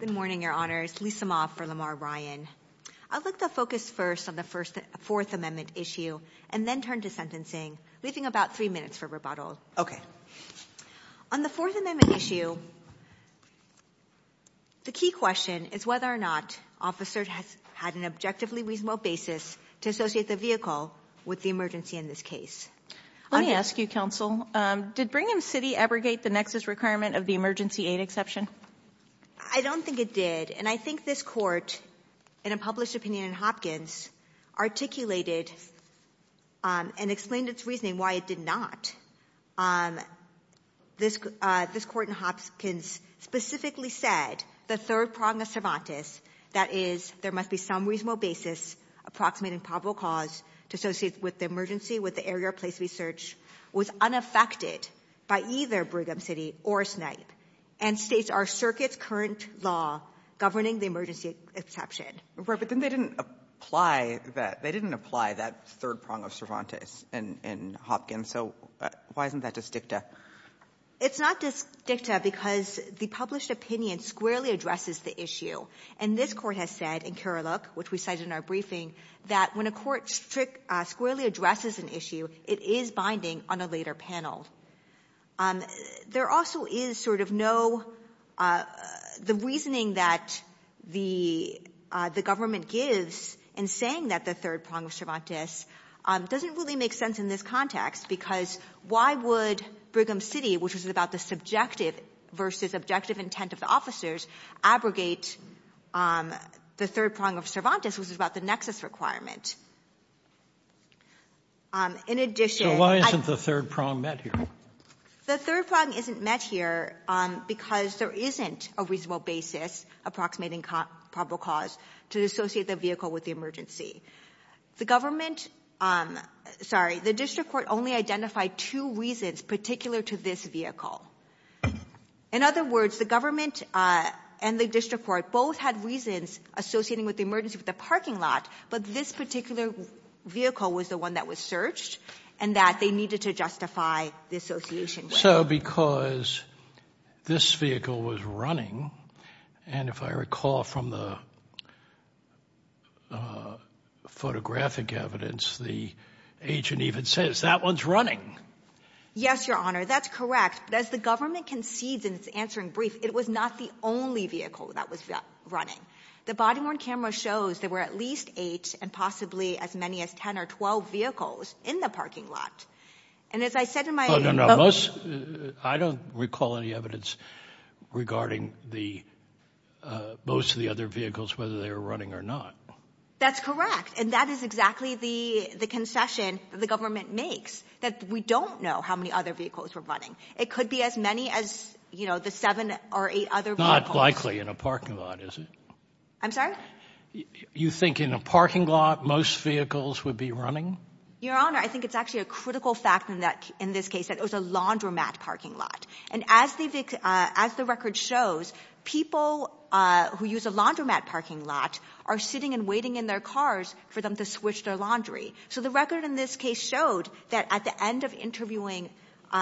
Good morning, Your Honors. Lisa Moff for Lamar Ryan. I'd like to focus first on the First-Fourth Amendment issue and then turn to sentencing, leaving about three minutes for rebuttal. Okay. On the Fourth Amendment issue, the key question is whether or not officers had an objectively reasonable basis to associate the vehicle with the emergency in this case. Let me ask you, Counsel, did Brigham City abrogate the nexus requirement of the emergency aid exception? I don't think it did, and I think this Court, in a published opinion in Hopkins, articulated and explained its reasoning why it did not. This Court in Hopkins specifically said the third prong of Cervantes, that is, there must be some reasonable basis approximating probable cause to associate with the emergency with the area or place we search, was unaffected by either Brigham City or Snipe and states our circuit's current law governing the emergency exception. Right, but then they didn't apply that, they didn't apply that third prong of Cervantes in Hopkins, so why isn't that just dicta? It's not just dicta because the published opinion squarely addresses the issue, and this Court has said in Kerr-Luck, which we cited in our briefing, that when a court squarely addresses an issue, it is binding on a later panel. There also is sort of no, the reasoning that the government gives in saying that the third prong of Cervantes doesn't really make sense in this context, because why would Brigham City, which was about the subjective versus objective intent of the officers, abrogate the third prong of Cervantes, which was about the nexus requirement? In addition... So why isn't the third prong met here? The third prong isn't met here because there isn't a reasonable basis approximating probable cause to associate the vehicle with the emergency. The government, sorry, the district court only identified two reasons particular to this vehicle. In other words, the government and the district court both had reasons associating with the emergency with the parking lot, but this particular vehicle was the one that was searched, and that they needed to justify the association. So because this vehicle was running, and if I recall from the photographic evidence, the agent even says, that one's running. Yes, Your Honor, that's correct, but as the government concedes in its answering brief, it was not the only vehicle that was running. The body-worn camera shows there were at least eight, and possibly as many as ten or twelve vehicles in the parking lot, and as I said in my... I don't recall any evidence regarding the most of the other vehicles, whether they were running or not. That's correct, and that is exactly the the concession the government makes, that we don't know how many other vehicles were running. It could be as many as, you know, the seven or eight other vehicles. Not likely in a parking lot, is it? I'm sorry? You think in a parking lot, most vehicles would be running? Your Honor, I think it's actually a critical fact in that, in this case, that it was a laundromat parking lot, and as the record shows, people who use a laundromat parking lot are sitting and waiting in their cars for them to switch their laundry. So the record in this case showed that at the end of interviewing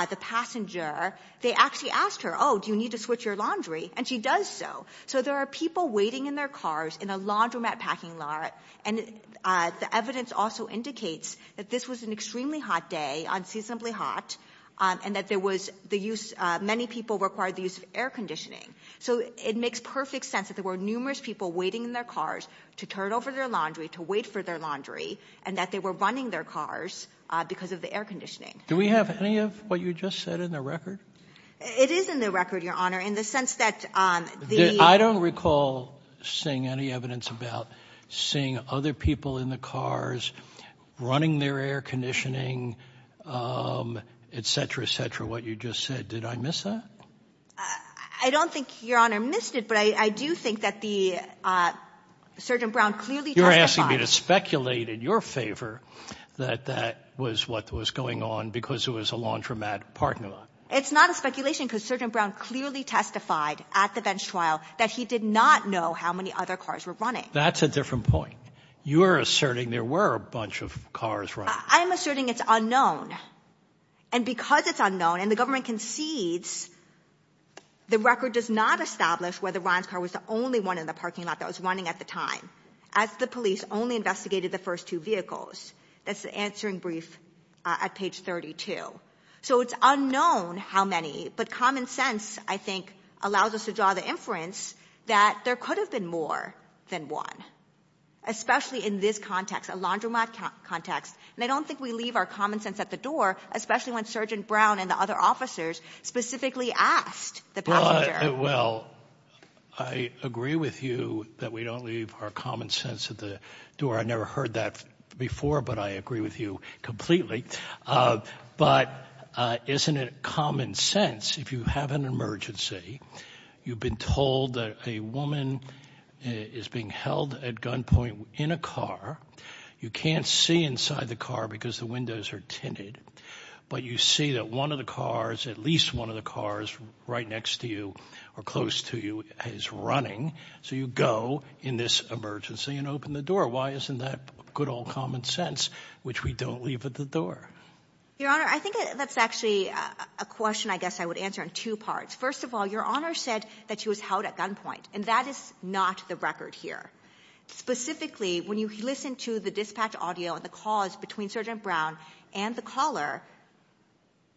the passenger, they actually asked her, oh, do you need to switch your laundry? And she does so. So there are people waiting in their cars in a laundromat parking lot, and the evidence also indicates that this was an extremely hot day, unseasonably hot, and that there was the use... many people required the use of air conditioning. So it makes perfect sense that there were numerous people waiting in their cars to turn over their laundry, to wait for their laundry, and that they were running their cars because of the air conditioning. Do we have any of what you just said in the record? It is in the record, Your Honor, in the sense that the... I don't recall seeing any evidence about seeing other people in the cars running their air conditioning, etc., etc., what you just said. Did I miss that? I don't think Your Honor missed it, but I do think that the Sergeant Brown clearly testified. You're asking me to speculate in your favor that that was what was going on because it was a laundromat parking lot? It's not a speculation because Sergeant Brown clearly testified at the bench trial that he did not know how many other cars were running. That's a different point. You are asserting there were a bunch of cars running. I'm asserting it's unknown, and because it's unknown, and the government concedes, the record does not establish whether Ryan's car was the only one in the parking lot that was running at the time, as the police only investigated the first two vehicles. That's the answering brief at page 32. So it's unknown how many, but common sense, I think, allows us to draw the inference that there could have been more than one, especially in this context, a laundromat context, and I don't think we leave our common sense at the door, especially when Sergeant Brown and the other officers specifically asked the passenger. Well, I agree with you that we don't leave our common sense at the door. I never heard that before, but I agree with you completely, but isn't it common sense if you have an emergency, you've been told that a woman is being held at gunpoint in a car, you can't see inside the car because the windows are tinted, but you see that one of the cars, at least one of the cars right next to you or close to you is running, so you go in this emergency and open the door. Why isn't that good old common sense, which we don't leave at the door? Your Honor, I think that's actually a question I guess I would answer in two parts. First of all, Your Honor said that she was held at gunpoint, and that is not the record here. Specifically, when you listen to the dispatch audio and the calls between Sergeant Brown and the caller,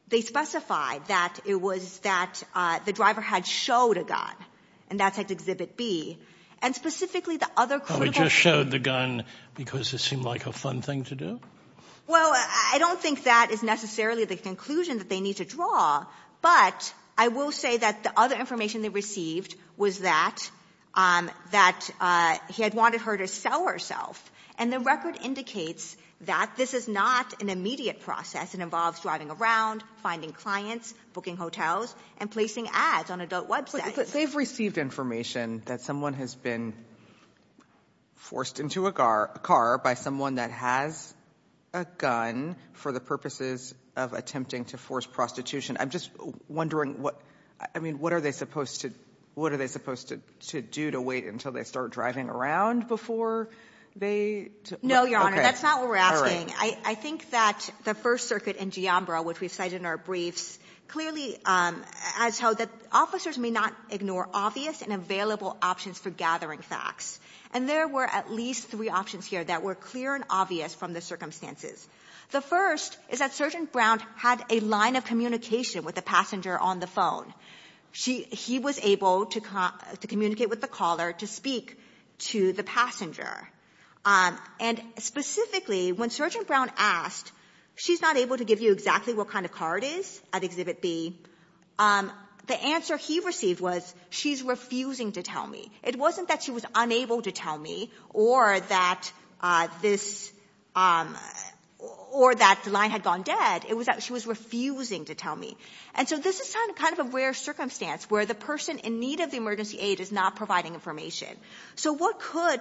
they specified that it was that the driver had showed a gun, and that's at Exhibit B, and specifically the other critical... He just showed the gun because it seemed like a fun thing to do? Well, I don't think that is necessarily the conclusion that they need to draw, but I will say that the other information they received was that he had wanted her to sell herself, and the record indicates that this is not an immediate process. It involves driving around, finding clients, booking hotels, and placing ads on adult websites. But they've received information that someone has been forced into a car by someone that has a gun for the purposes of attempting to force prostitution. I'm just wondering what, I mean, what are they supposed to, what are they supposed to do to wait until they start driving around before they... No, Your Honor, that's not what we're asking. I think that the First Circuit in Giambra, which we've cited in our briefs, clearly has told that officers may not ignore obvious and available options for gathering facts, and there were at least three options here that were clear and obvious from the circumstances. The first is that Sergeant Brown had a line of communication with the passenger on the phone. He was able to communicate with the caller to speak to the passenger. And specifically, when Sergeant Brown asked, she's not able to give you exactly what kind of car it is at Exhibit B, the answer he received was, she's refusing to tell me. It wasn't that she was unable to tell me, or that this, or that the line had gone dead. It was that she was refusing to tell me. And so this is kind of a rare circumstance, where the person in need of the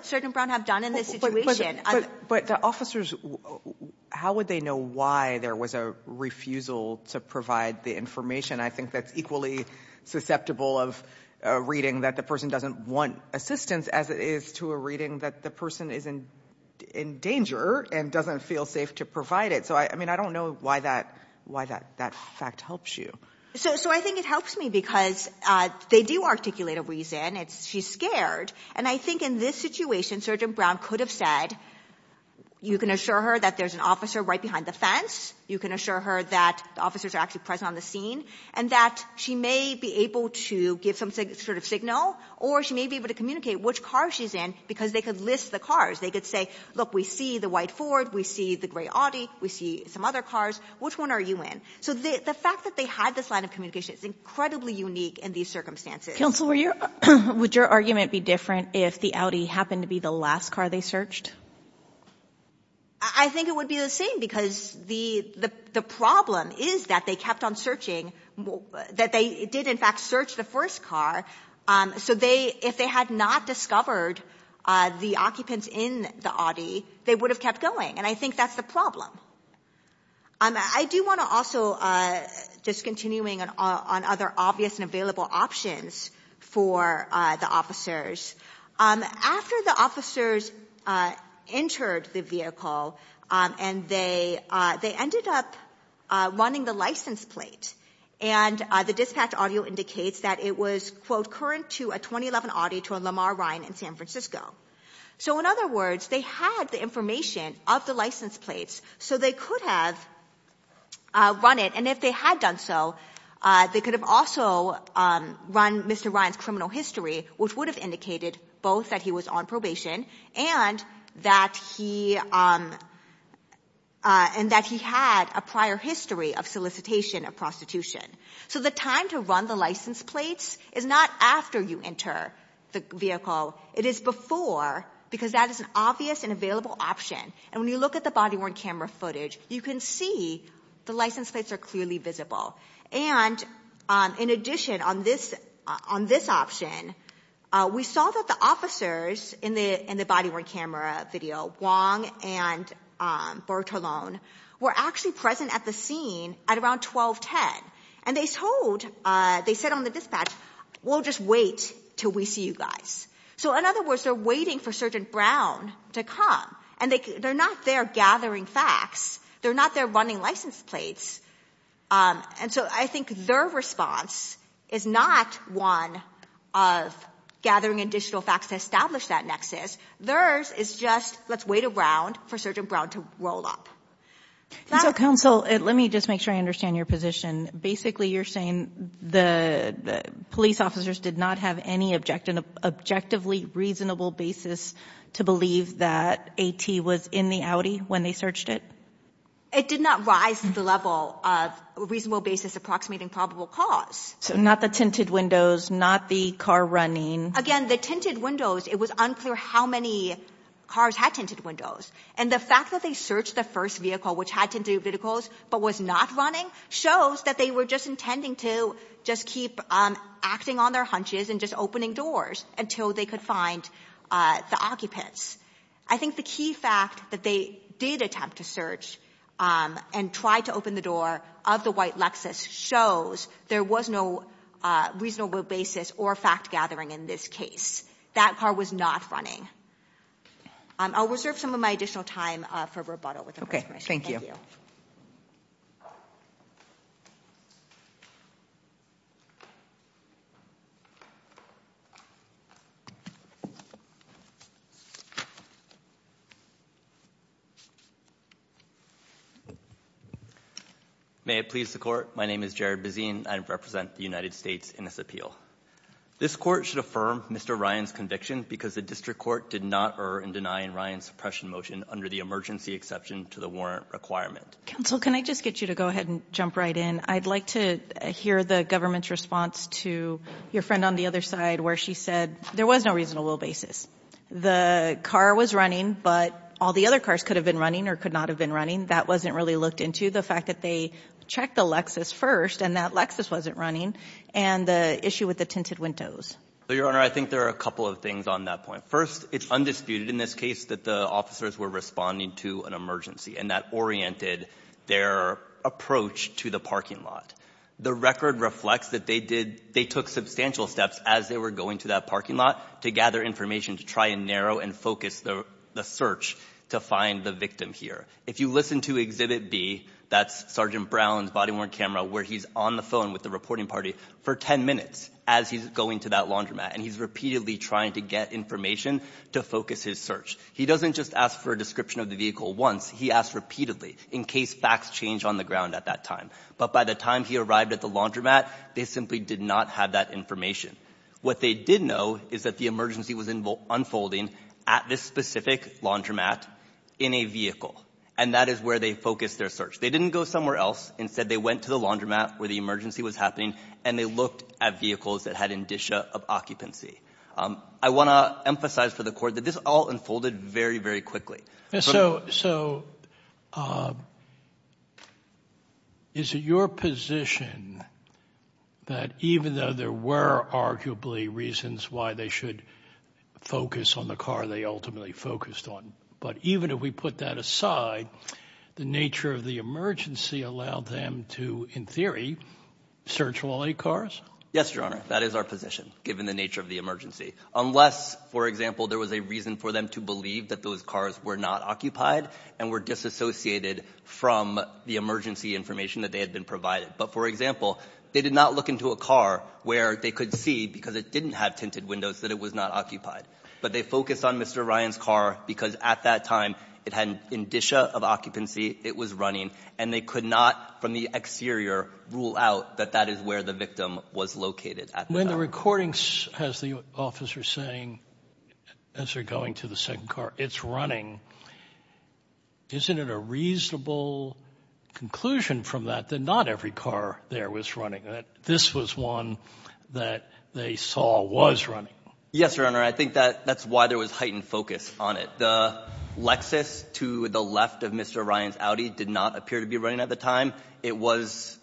Sergeant Brown have done in this situation. But the officers, how would they know why there was a refusal to provide the information? I think that's equally susceptible of reading that the person doesn't want assistance, as it is to a reading that the person is in danger and doesn't feel safe to provide it. So I mean, I don't know why that fact helps you. So I think it helps me, because they do articulate a reason. She's scared. And I think in this situation, Sergeant Brown could have said, you can assure her that there's an officer right behind the fence. You can assure her that the officers are actually present on the scene. And that she may be able to give some sort of signal, or she may be able to communicate which car she's in, because they could list the cars. They could say, look, we see the white Ford, we see the gray Audi, we see some other cars. Which one are you in? So the fact that they had this line of communication is incredibly unique in these circumstances. Counselor, would your argument be different if the Audi happened to be the last car they searched? I think it would be the same, because the problem is that they kept on searching, that they did in fact search the first car. So if they had not discovered the occupants in the Audi, they would have kept going. And I think that's the problem. I do want to also, just continuing on other obvious and available options for the officers, after the officers entered the vehicle, and they ended up running the license plate, and the dispatch audio indicates that it was, quote, current to a 2011 Audi to a Lamar Ryan in San Francisco. So in other words, they had the information of the license plates, so they could have run it, and if they had done so, they could have also run Mr. Ryan's criminal history, which would have indicated both that he was on probation and that he had a prior history of solicitation of prostitution. So the time to run the license plates is not after you enter the vehicle. It is before, because that is an obvious and available option. And when you look at the body-worn camera footage, you can see the license plates are clearly visible. And in addition, on this option, we saw that the officers in the body-worn camera video, Wong and Bertolone, were actually present at the scene at around 1210. And they told, they said on the dispatch, we'll just wait till we see you guys. So in other words, they're waiting for Sergeant Brown to come. And they're not there gathering facts. They're not there running license plates. And so I think their response is not one of gathering additional facts to establish that nexus. Theirs is just, let's wait around for Sergeant Brown to roll up. So counsel, let me just make sure I understand your position. Basically, you're saying the police officers did not have any objectively reasonable basis to believe that AT was in the Audi when they searched it? It did not rise to the level of reasonable basis approximating probable cause. So not the tinted windows, not the car running. Again, the tinted windows, it was unclear how many cars had tinted windows. And the fact that they searched the first vehicle, which had tinted windows, but was not running, shows that they were just intending to just keep acting on their hunches and just open doors until they could find the occupants. I think the key fact that they did attempt to search and try to open the door of the white Lexus shows there was no reasonable basis or fact-gathering in this case. That car was not running. I'll reserve some of my additional time for rebuttal. Okay, thank you. May it please the court, my name is Jared Bezine. I represent the United States in this appeal. This court should affirm Mr. Ryan's conviction because the district court did not err in denying Ryan's suppression motion under the emergency exception to the warrant requirement. Counsel, can I just get you to go ahead and jump right in? I'd like to hear the government's response to your friend on the other side where she said there was no reasonable basis. The car was running but all the other cars could have been running or could not have been running. That wasn't really looked into. The fact that they checked the Lexus first and that Lexus wasn't running and the issue with the tinted windows. Your Honor, I think there are a couple of things on that point. First, it's undisputed in this case that the officers were responding to an emergency and that oriented their approach to the parking lot. The record reflects that they did, they took substantial steps as they were going to that parking lot to gather information to try and narrow and focus the search to find the victim here. If you listen to Exhibit B, that's Sergeant Brown's body-worn camera where he's on the phone with the reporting party for 10 minutes as he's going to that laundromat and he's repeatedly trying to get information to focus his search. He doesn't just ask for a description of the vehicle once, he asked repeatedly in case facts change on the ground at that time. But by the time he arrived at the laundromat, they simply did not have that information. What they did know is that the emergency was unfolding at this specific laundromat in a vehicle and that is where they focused their search. They didn't go somewhere else. Instead, they went to the laundromat where the emergency was happening and they looked at vehicles that had indicia of occupancy. I want to emphasize for the that even though there were arguably reasons why they should focus on the car they ultimately focused on, but even if we put that aside, the nature of the emergency allowed them to, in theory, search all eight cars? Yes, Your Honor. That is our position, given the nature of the emergency. Unless, for example, there was a reason for them to believe that those cars were not occupied and were disassociated from the emergency information that they had been provided. But, for example, they did not look into a car where they could see because it didn't have tinted windows that it was not occupied. But they focused on Mr. Ryan's car because at that time it had indicia of occupancy, it was running, and they could not, from the exterior, rule out that that is where the victim was located at the time. Sotomayor, when the recording has the officer saying, as they're going to the second car, it's running, isn't it a reasonable conclusion from that that not every car there was running, that this was one that they saw was running? Yes, Your Honor. I think that's why there was heightened focus on it. The Lexus to the left of Mr. Ryan's Audi did not appear to be running at the time. It was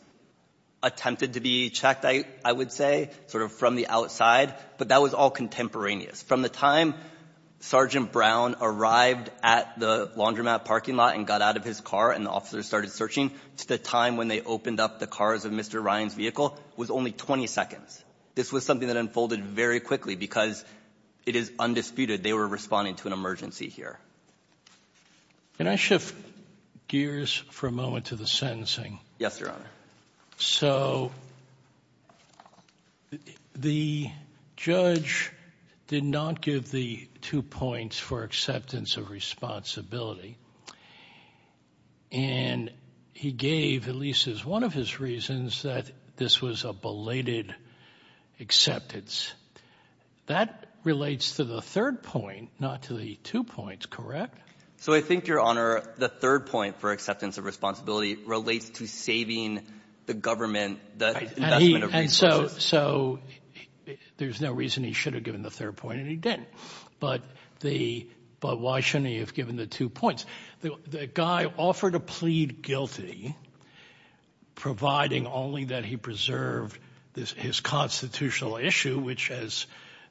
attempted to be checked, I would say, sort of from the outside, but that was all contemporaneous. From the time Sergeant Brown arrived at the laundromat parking lot and got out of his car and the officers started searching, to the time when they opened up the cars of Mr. Ryan's vehicle was only 20 seconds. This was something that unfolded very quickly because it is undisputed they were responding to an emergency here. Can I shift gears for a moment to the sentencing? Yes, Your Honor. So the judge did not give the two points for acceptance of responsibility. And he gave, at least as one of his reasons, that this was a belated acceptance. That relates to the third point, not to the two points, correct? So I think, Your Honor, the third point for acceptance of responsibility relates to saving the government the investment of resources. So there's no reason he should have given the third point, and he didn't. But why shouldn't he have given the two points? The guy offered to plead guilty, providing only that he preserved his constitutional issue, which, as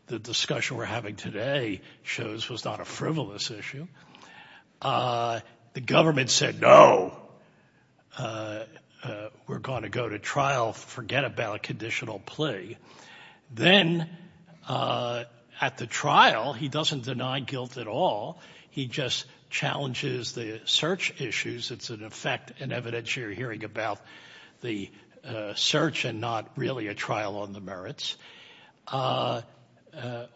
the discussion we're having today shows, was not a frivolous issue. The government said, no, we're going to go to trial, forget about conditional plea. Then, at the trial, he doesn't deny guilt at all. He just challenges the search issues. It's an effect and evidence you're hearing about the search and not really a trial on the merits.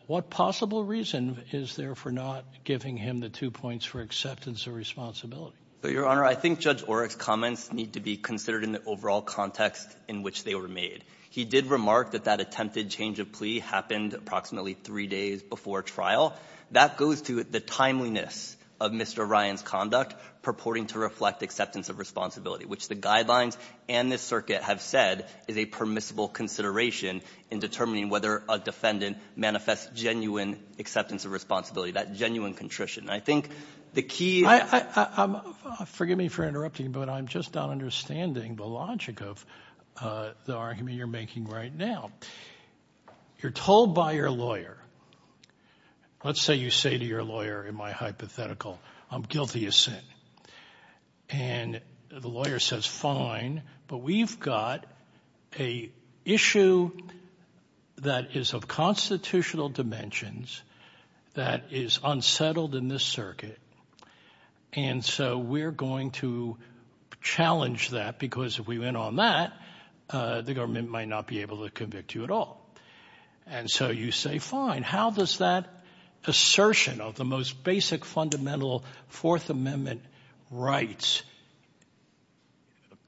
What possible reason is there for not giving him the two points for acceptance of responsibility? So, Your Honor, I think Judge Oreck's comments need to be considered in the overall context in which they were made. He did remark that that attempted change of plea happened approximately three days before trial. That goes to the timeliness of Mr. Ryan's conduct, purporting to reflect acceptance of responsibility, which the guidelines and this circuit have said is a permissible consideration in determining whether a defendant manifests genuine acceptance of responsibility, that genuine contrition. I think the key- Forgive me for interrupting, but I'm just not understanding the logic of the argument you're making right now. You're told by your lawyer, let's say you say to your lawyer in my hypothetical, I'm guilty of sin. And the lawyer says, fine, but we've got a issue that is of constitutional dimensions that is unsettled in this circuit. And so we're going to challenge that because if we went on that, the government might not be able to convict you at all. And so you say, fine, how does that assertion of the most basic fundamental Fourth Amendment rights,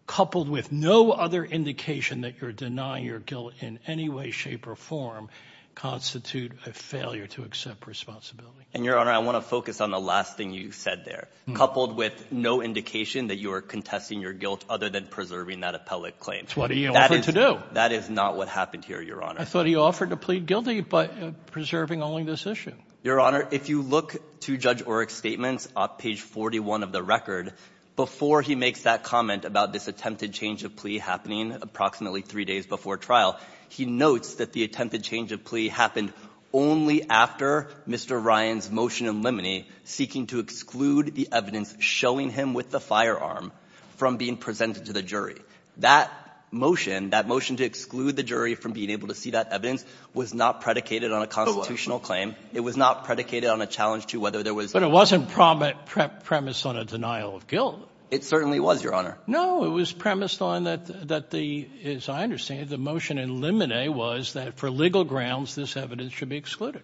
coupled with no other indication that you're denying your guilt in any way, shape or form, constitute a failure to accept responsibility? And, Your Honor, I want to focus on the last thing you said there. Coupled with no indication that you are contesting your guilt other than preserving that appellate claim. That's what he offered to do. That is not what happened here, Your Honor. I thought he offered to plead guilty, but preserving only this issue. Your Honor, if you look to Judge Oreck's statements on page 41 of the record, before he makes that comment about this attempted change of plea happening approximately three days before trial, he notes that the attempted change of plea happened only after Mr. Ryan's motion in limine seeking to exclude the evidence showing him with the firearm from being presented to the jury. That motion, that motion to exclude the jury from being able to see that evidence, was not predicated on a constitutional claim. It was not predicated on a challenge to whether there was- But it wasn't premised on a denial of guilt. It certainly was, Your Honor. No, it was premised on that the, as I understand it, the motion in limine was that for legal grounds, this evidence should be excluded.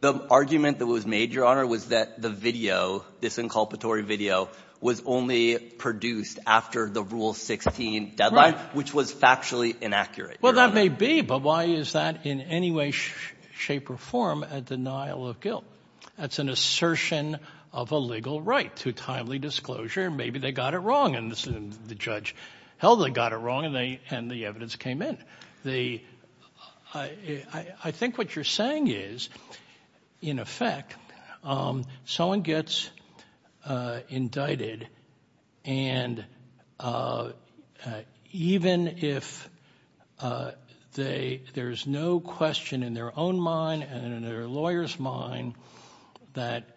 The argument that was made, Your Honor, was that the video, this inculpatory video, was only produced after the Rule 16 deadline, which was factually inaccurate. Well, that may be, but why is that in any way, shape, or form a denial of guilt? That's an assertion of a legal right to timely disclosure. Maybe they got it wrong, and the judge held they got it wrong, and the evidence came in. The, I think what you're saying is, in effect, someone gets indicted and even if there's no question in their own mind and in their lawyer's mind that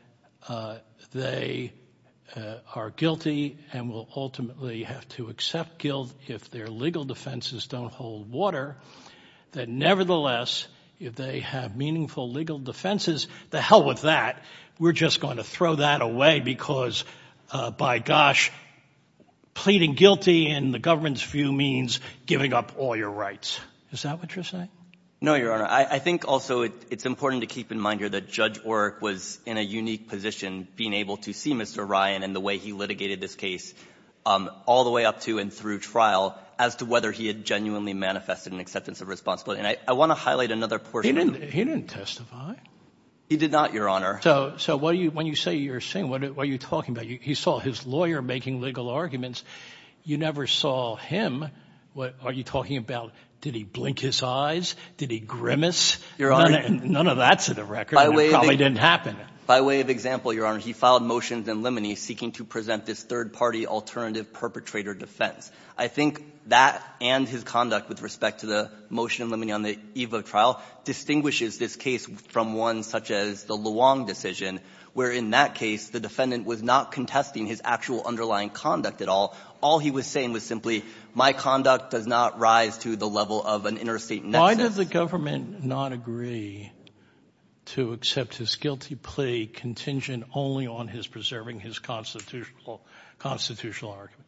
they are guilty and will ultimately have to accept guilt if their legal defenses don't hold water, that nevertheless, if they have meaningful legal defenses, the hell with that. We're just going to throw that away because, by gosh, pleading guilty in the government's view means giving up all your rights. Is that what you're saying? No, Your Honor. I think also it's important to keep in mind here that Judge Orrick was in a unique position being able to see Mr. Ryan and the way he litigated this case all the way up to and through trial as to whether he had genuinely manifested an acceptance of responsibility. And I want to highlight another portion of the- He didn't testify. He did not, Your Honor. So when you say you're saying, what are you talking about? He saw his lawyer making legal arguments. You never saw him. What are you talking about? Did he blink his eyes? Did he grimace? Your Honor- None of that's in the record, and it probably didn't happen. By way of example, Your Honor, he filed motions in limine seeking to present this third-party alternative perpetrator defense. I think that and his conduct with respect to the motion in limine on the EVA trial distinguishes this case from one such as the Luong decision, where, in that case, the defendant was not contesting his actual underlying conduct at all. All he was saying was simply, my conduct does not rise to the level of an interstate nexus. Why did the government not agree to accept his guilty plea contingent only on his preserving his constitutional argument?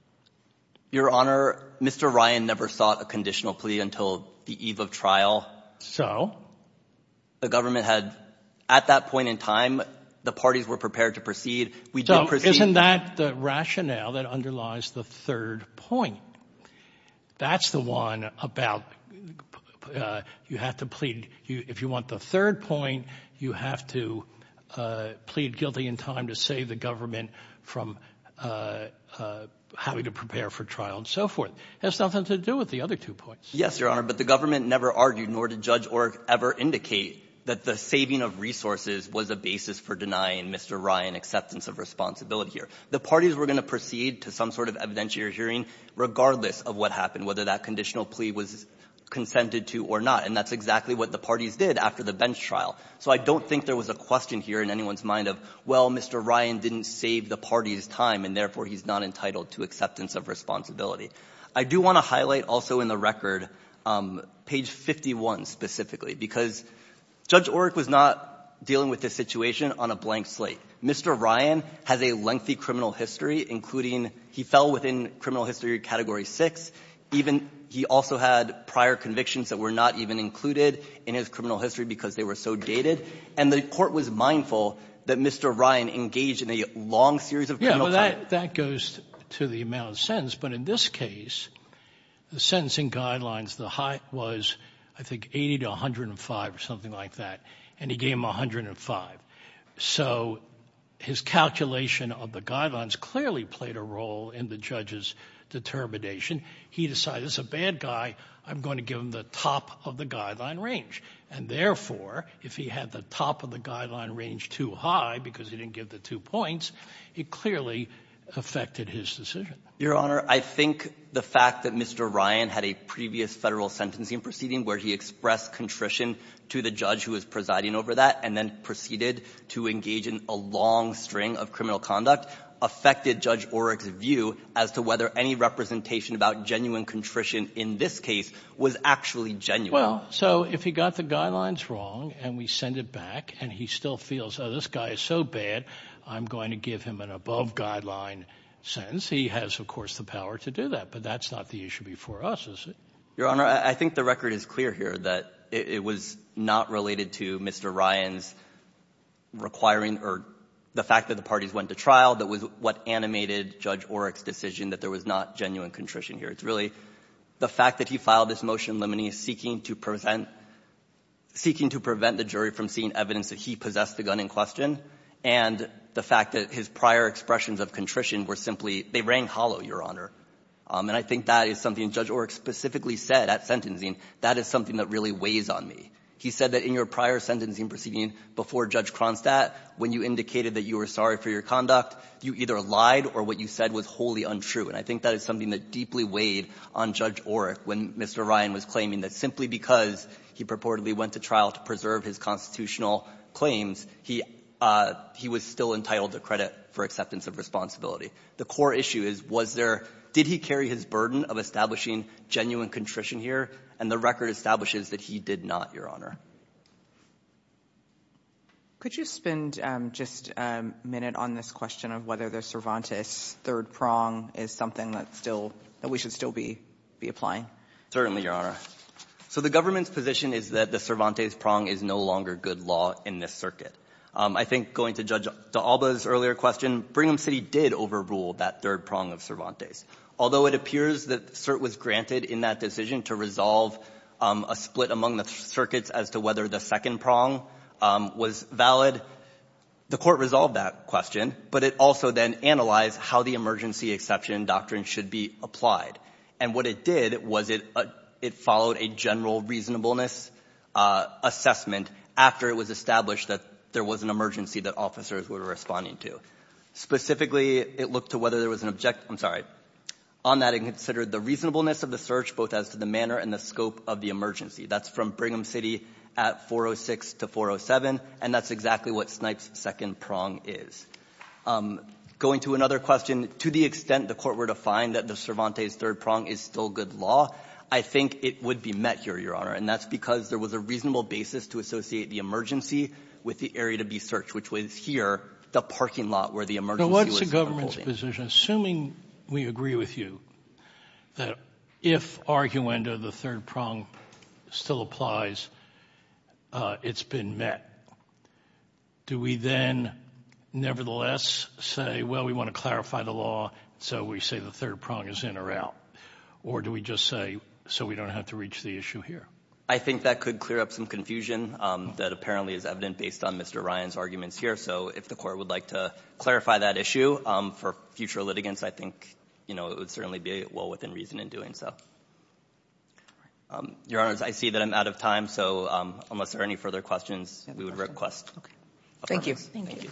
Your Honor, Mr. Ryan never sought a conditional plea until the eve of trial. So? The government had, at that point in time, the parties were prepared to proceed. We did proceed- So isn't that the rationale that underlies the third point? That's the one about you have to plead. If you want the third point, you have to plead guilty in time to save the government from having to prepare for trial and so forth. It has nothing to do with the other two points. Yes, Your Honor, but the government never argued nor did Judge Orr ever indicate that the saving of resources was a basis for denying Mr. Ryan acceptance of responsibility here. The parties were going to proceed to some sort of evidentiary hearing regardless of what happened, whether that conditional plea was consented to or not. And that's exactly what the parties did after the bench trial. So I don't think there was a question here in anyone's mind of, well, Mr. Ryan didn't save the party's time, and therefore, he's not entitled to acceptance of responsibility. I do want to highlight also in the record page 51 specifically, because Judge Orrick was not dealing with this situation on a blank slate. Mr. Ryan has a lengthy criminal history, including he fell within criminal history category 6. He also had prior convictions that were not even included in his criminal history because they were so dated. And the Court was mindful that Mr. Ryan engaged in a long series of criminal cases. Yeah, well, that goes to the amount of sentence, but in this case, the sentencing guidelines, the height was, I think, 80 to 105 or something like that, and he gave them 105. So his calculation of the guidelines clearly played a role in the judge's determination. He decided, as a bad guy, I'm going to give him the top of the guideline range. And therefore, if he had the top of the guideline range too high because he didn't give the two points, it clearly affected his decision. Your Honor, I think the fact that Mr. Ryan had a previous federal sentencing proceeding where he expressed contrition to the judge who was presiding over that and then proceeded to engage in a long string of criminal conduct affected Judge Orrick's view as to whether any representation about genuine contrition in this case was actually genuine. Well, so if he got the guidelines wrong and we send it back and he still feels, oh, this guy is so bad, I'm going to give him an above guideline sentence. He has, of course, the power to do that. But that's not the issue before us, is it? Your Honor, I think the record is clear here that it was not related to Mr. Ryan's requiring or the fact that the parties went to trial that was what animated Judge Orrick's decision that there was not genuine contrition here. It's really the fact that he filed this motion limineous, seeking to prevent the jury from seeing evidence that he possessed the gun in question, and the fact that his prior expressions of contrition were simply they were not genuine. They rang hollow, Your Honor. And I think that is something Judge Orrick specifically said at sentencing. That is something that really weighs on me. He said that in your prior sentencing proceeding before Judge Cronstadt, when you indicated that you were sorry for your conduct, you either lied or what you said was wholly untrue. And I think that is something that deeply weighed on Judge Orrick when Mr. Ryan was claiming that simply because he purportedly went to trial to preserve his constitutional claims, he was still entitled to credit for acceptance of responsibility. The core issue is, was there, did he carry his burden of establishing genuine contrition here, and the record establishes that he did not, Your Honor. Could you spend just a minute on this question of whether the Cervantes third prong is something that still, that we should still be applying? Certainly, Your Honor. So the government's position is that the Cervantes prong is no longer good law in this circuit. I think going to Judge D'Alba's earlier question, Brigham City did overrule that third prong of Cervantes. Although it appears that cert was granted in that decision to resolve a split among the circuits as to whether the second prong was valid. The court resolved that question, but it also then analyzed how the emergency exception doctrine should be applied. And what it did was it followed a general reasonableness assessment after it was established that there was an emergency that officers were responding to. Specifically, it looked to whether there was an, I'm sorry, on that it considered the reasonableness of the search, both as to the manner and the scope of the emergency. That's from Brigham City at 406 to 407, and that's exactly what Snipes' second prong is. Going to another question, to the extent the court were to find that the Cervantes' third prong is still good law, I think it would be met here, Your Honor. And that's because there was a reasonable basis to associate the emergency with the area to be searched, which was here, the parking lot where the emergency was unfolding. Now, what's the government's position, assuming we agree with you, that if arguendo, the third prong, still applies, it's been met? Do we then, nevertheless, say, well, we want to clarify the law, so we say the third prong is in or out? Or do we just say, so we don't have to reach the issue here? I think that could clear up some confusion that apparently is evident based on Mr. Ryan's arguments here. So if the court would like to clarify that issue for future litigants, I think it would certainly be well within reason in doing so. Your Honors, I see that I'm out of time, so unless there are any further questions, we would request a pardon. Thank you.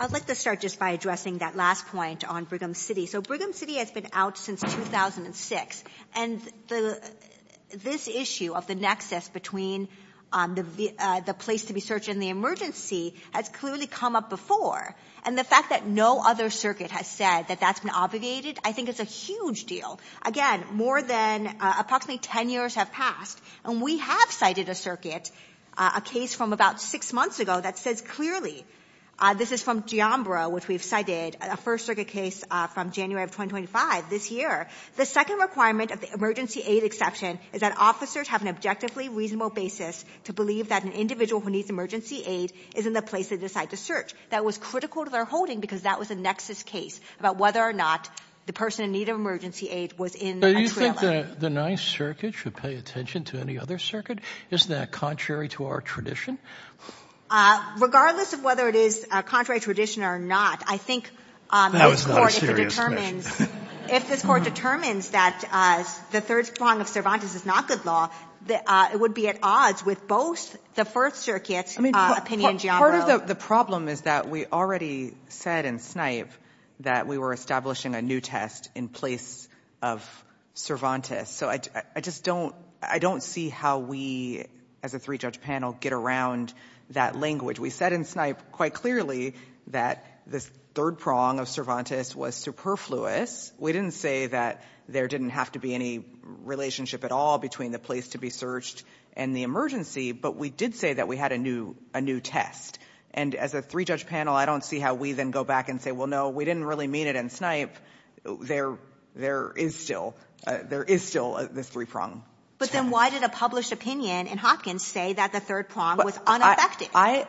I'd like to start just by addressing that last point on Brigham City. So Brigham City has been out since 2006, and this issue of the nexus between the place to be searched and the emergency has clearly come up before. And the fact that no other circuit has said that that's been obviated, I think it's a huge deal. Again, more than approximately ten years have passed, and we have cited a circuit, a case from about six months ago, that says clearly. This is from Giambra, which we've cited, a first circuit case from January of 2025, this year. The second requirement of the emergency aid exception is that officers have an objectively reasonable basis to believe that an individual who needs emergency aid is in the place they decide to search. That was critical to their holding because that was a nexus case about whether or not the person in need of emergency aid was in a trailer. But do you think the Ninth Circuit should pay attention to any other circuit? Isn't that contrary to our tradition? Regardless of whether it is contrary to tradition or not, I think this Court, if it determines. That was not a serious question. If this Court determines that the third prong of Cervantes is not good law, it would be at odds with both the First Circuit's opinion, Giambra. Part of the problem is that we already said in Snipe that we were establishing a new test in place of Cervantes. So I just don't see how we, as a three-judge panel, get around that language. We said in Snipe quite clearly that this third prong of Cervantes was superfluous. We didn't say that there didn't have to be any relationship at all between the place to be searched and the emergency. But we did say that we had a new test. And as a three-judge panel, I don't see how we then go back and say, well, no, we didn't really mean it in Snipe. There is still this three prong. But then why did a published opinion in Hopkins say that the third prong was unaffected? I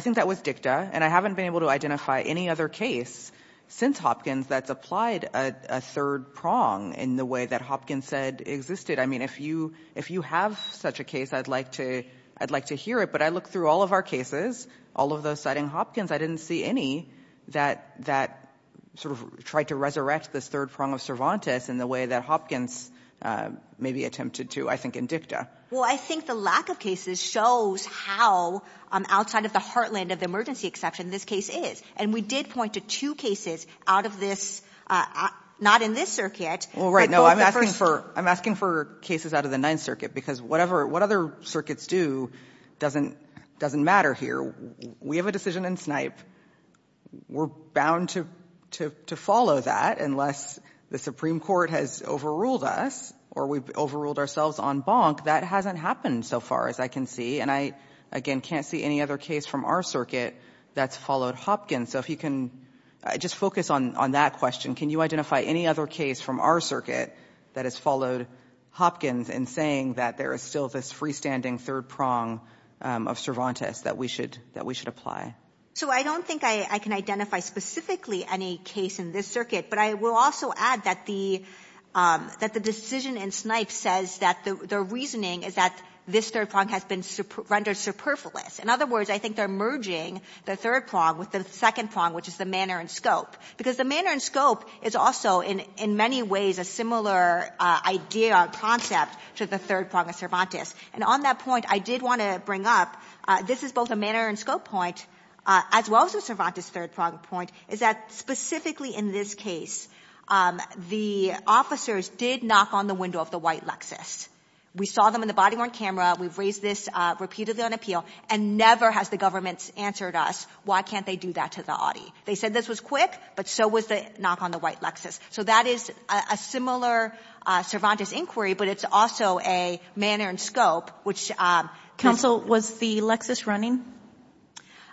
think that was dicta, and I haven't been able to identify any other case since Hopkins that's applied a third prong in the way that Hopkins said existed. I mean, if you have such a case, I'd like to hear it. But I looked through all of our cases, all of those citing Hopkins. I didn't see any that sort of tried to resurrect this third prong of Cervantes in the way that Hopkins maybe attempted to, I think, in dicta. Well, I think the lack of cases shows how outside of the heartland of the emergency exception this case is. And we did point to two cases out of this, not in this circuit. Well, right, no, I'm asking for cases out of the Ninth Circuit because whatever, what other circuits do doesn't matter here. We have a decision in Snipe. We're bound to follow that unless the Supreme Court has overruled us or we've overruled ourselves on Bonk. That hasn't happened so far, as I can see. And I, again, can't see any other case from our circuit that's followed Hopkins. So if you can just focus on that question. Can you identify any other case from our circuit that has followed Hopkins in saying that there is still this freestanding third prong of Cervantes that we should apply? So I don't think I can identify specifically any case in this circuit. But I will also add that the decision in Snipe says that the reasoning is that this third prong has been rendered superfluous. In other words, I think they're merging the third prong with the second prong, which is the manner and scope. Because the manner and scope is also, in many ways, a similar idea or concept to the third prong of Cervantes. And on that point, I did want to bring up, this is both a manner and scope point, as well as a Cervantes third prong point, is that specifically in this case, the officers did knock on the window of the white Lexus. We saw them in the body-worn camera. We've raised this repeatedly on appeal. And never has the government answered us, why can't they do that to the Audi? They said this was quick, but so was the knock on the white Lexus. So that is a similar Cervantes inquiry, but it's also a manner and scope. Counsel, was the Lexus running?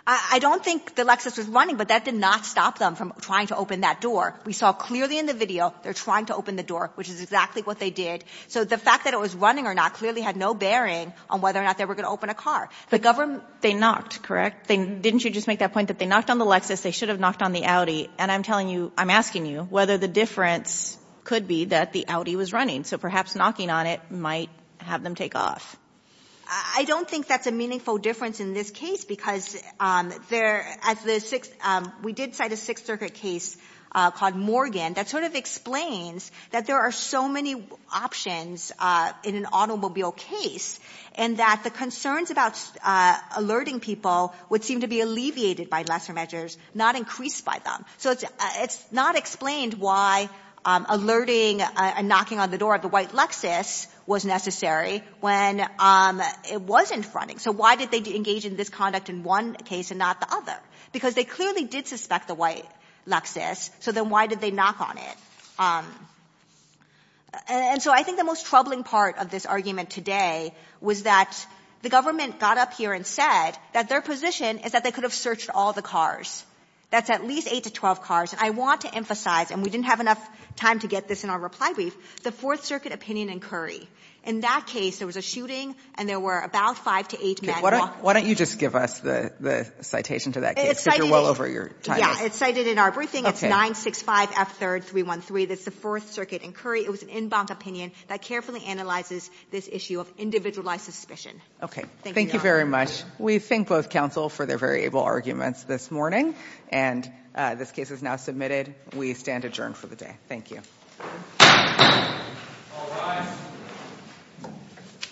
I don't think the Lexus was running, but that did not stop them from trying to open that door. We saw clearly in the video they're trying to open the door, which is exactly what they did. So the fact that it was running or not clearly had no bearing on whether or not they were going to open a car. They knocked, correct? Didn't you just make that point that they knocked on the Lexus? They should have knocked on the Audi. And I'm asking you whether the difference could be that the Audi was running. So perhaps knocking on it might have them take off. I don't think that's a meaningful difference in this case because we did cite a Sixth Circuit case called Morgan that sort of explains that there are so many options in an automobile case and that the concerns about alerting people would seem to be alleviated by lesser measures, not increased by them. So it's not explained why alerting and knocking on the door of the white Lexus was necessary when it wasn't running. So why did they engage in this conduct in one case and not the other? Because they clearly did suspect the white Lexus, so then why did they knock on it? And so I think the most troubling part of this argument today was that the government got up here and said that their position is that they could have searched all the cars. That's at least eight to 12 cars. And I want to emphasize, and we didn't have enough time to get this in our reply brief, the Fourth Circuit opinion in Curry. In that case, there was a shooting and there were about five to eight men walking. Why don't you just give us the citation to that case because you're well over your time. Yeah, it's cited in our briefing. It's 965F313. That's the Fourth Circuit in Curry. It was an in-bound opinion that carefully analyzes this issue of individualized suspicion. Okay. Thank you very much. We thank both counsel for their variable arguments this morning. And this case is now submitted. We stand adjourned for the day. Thank you.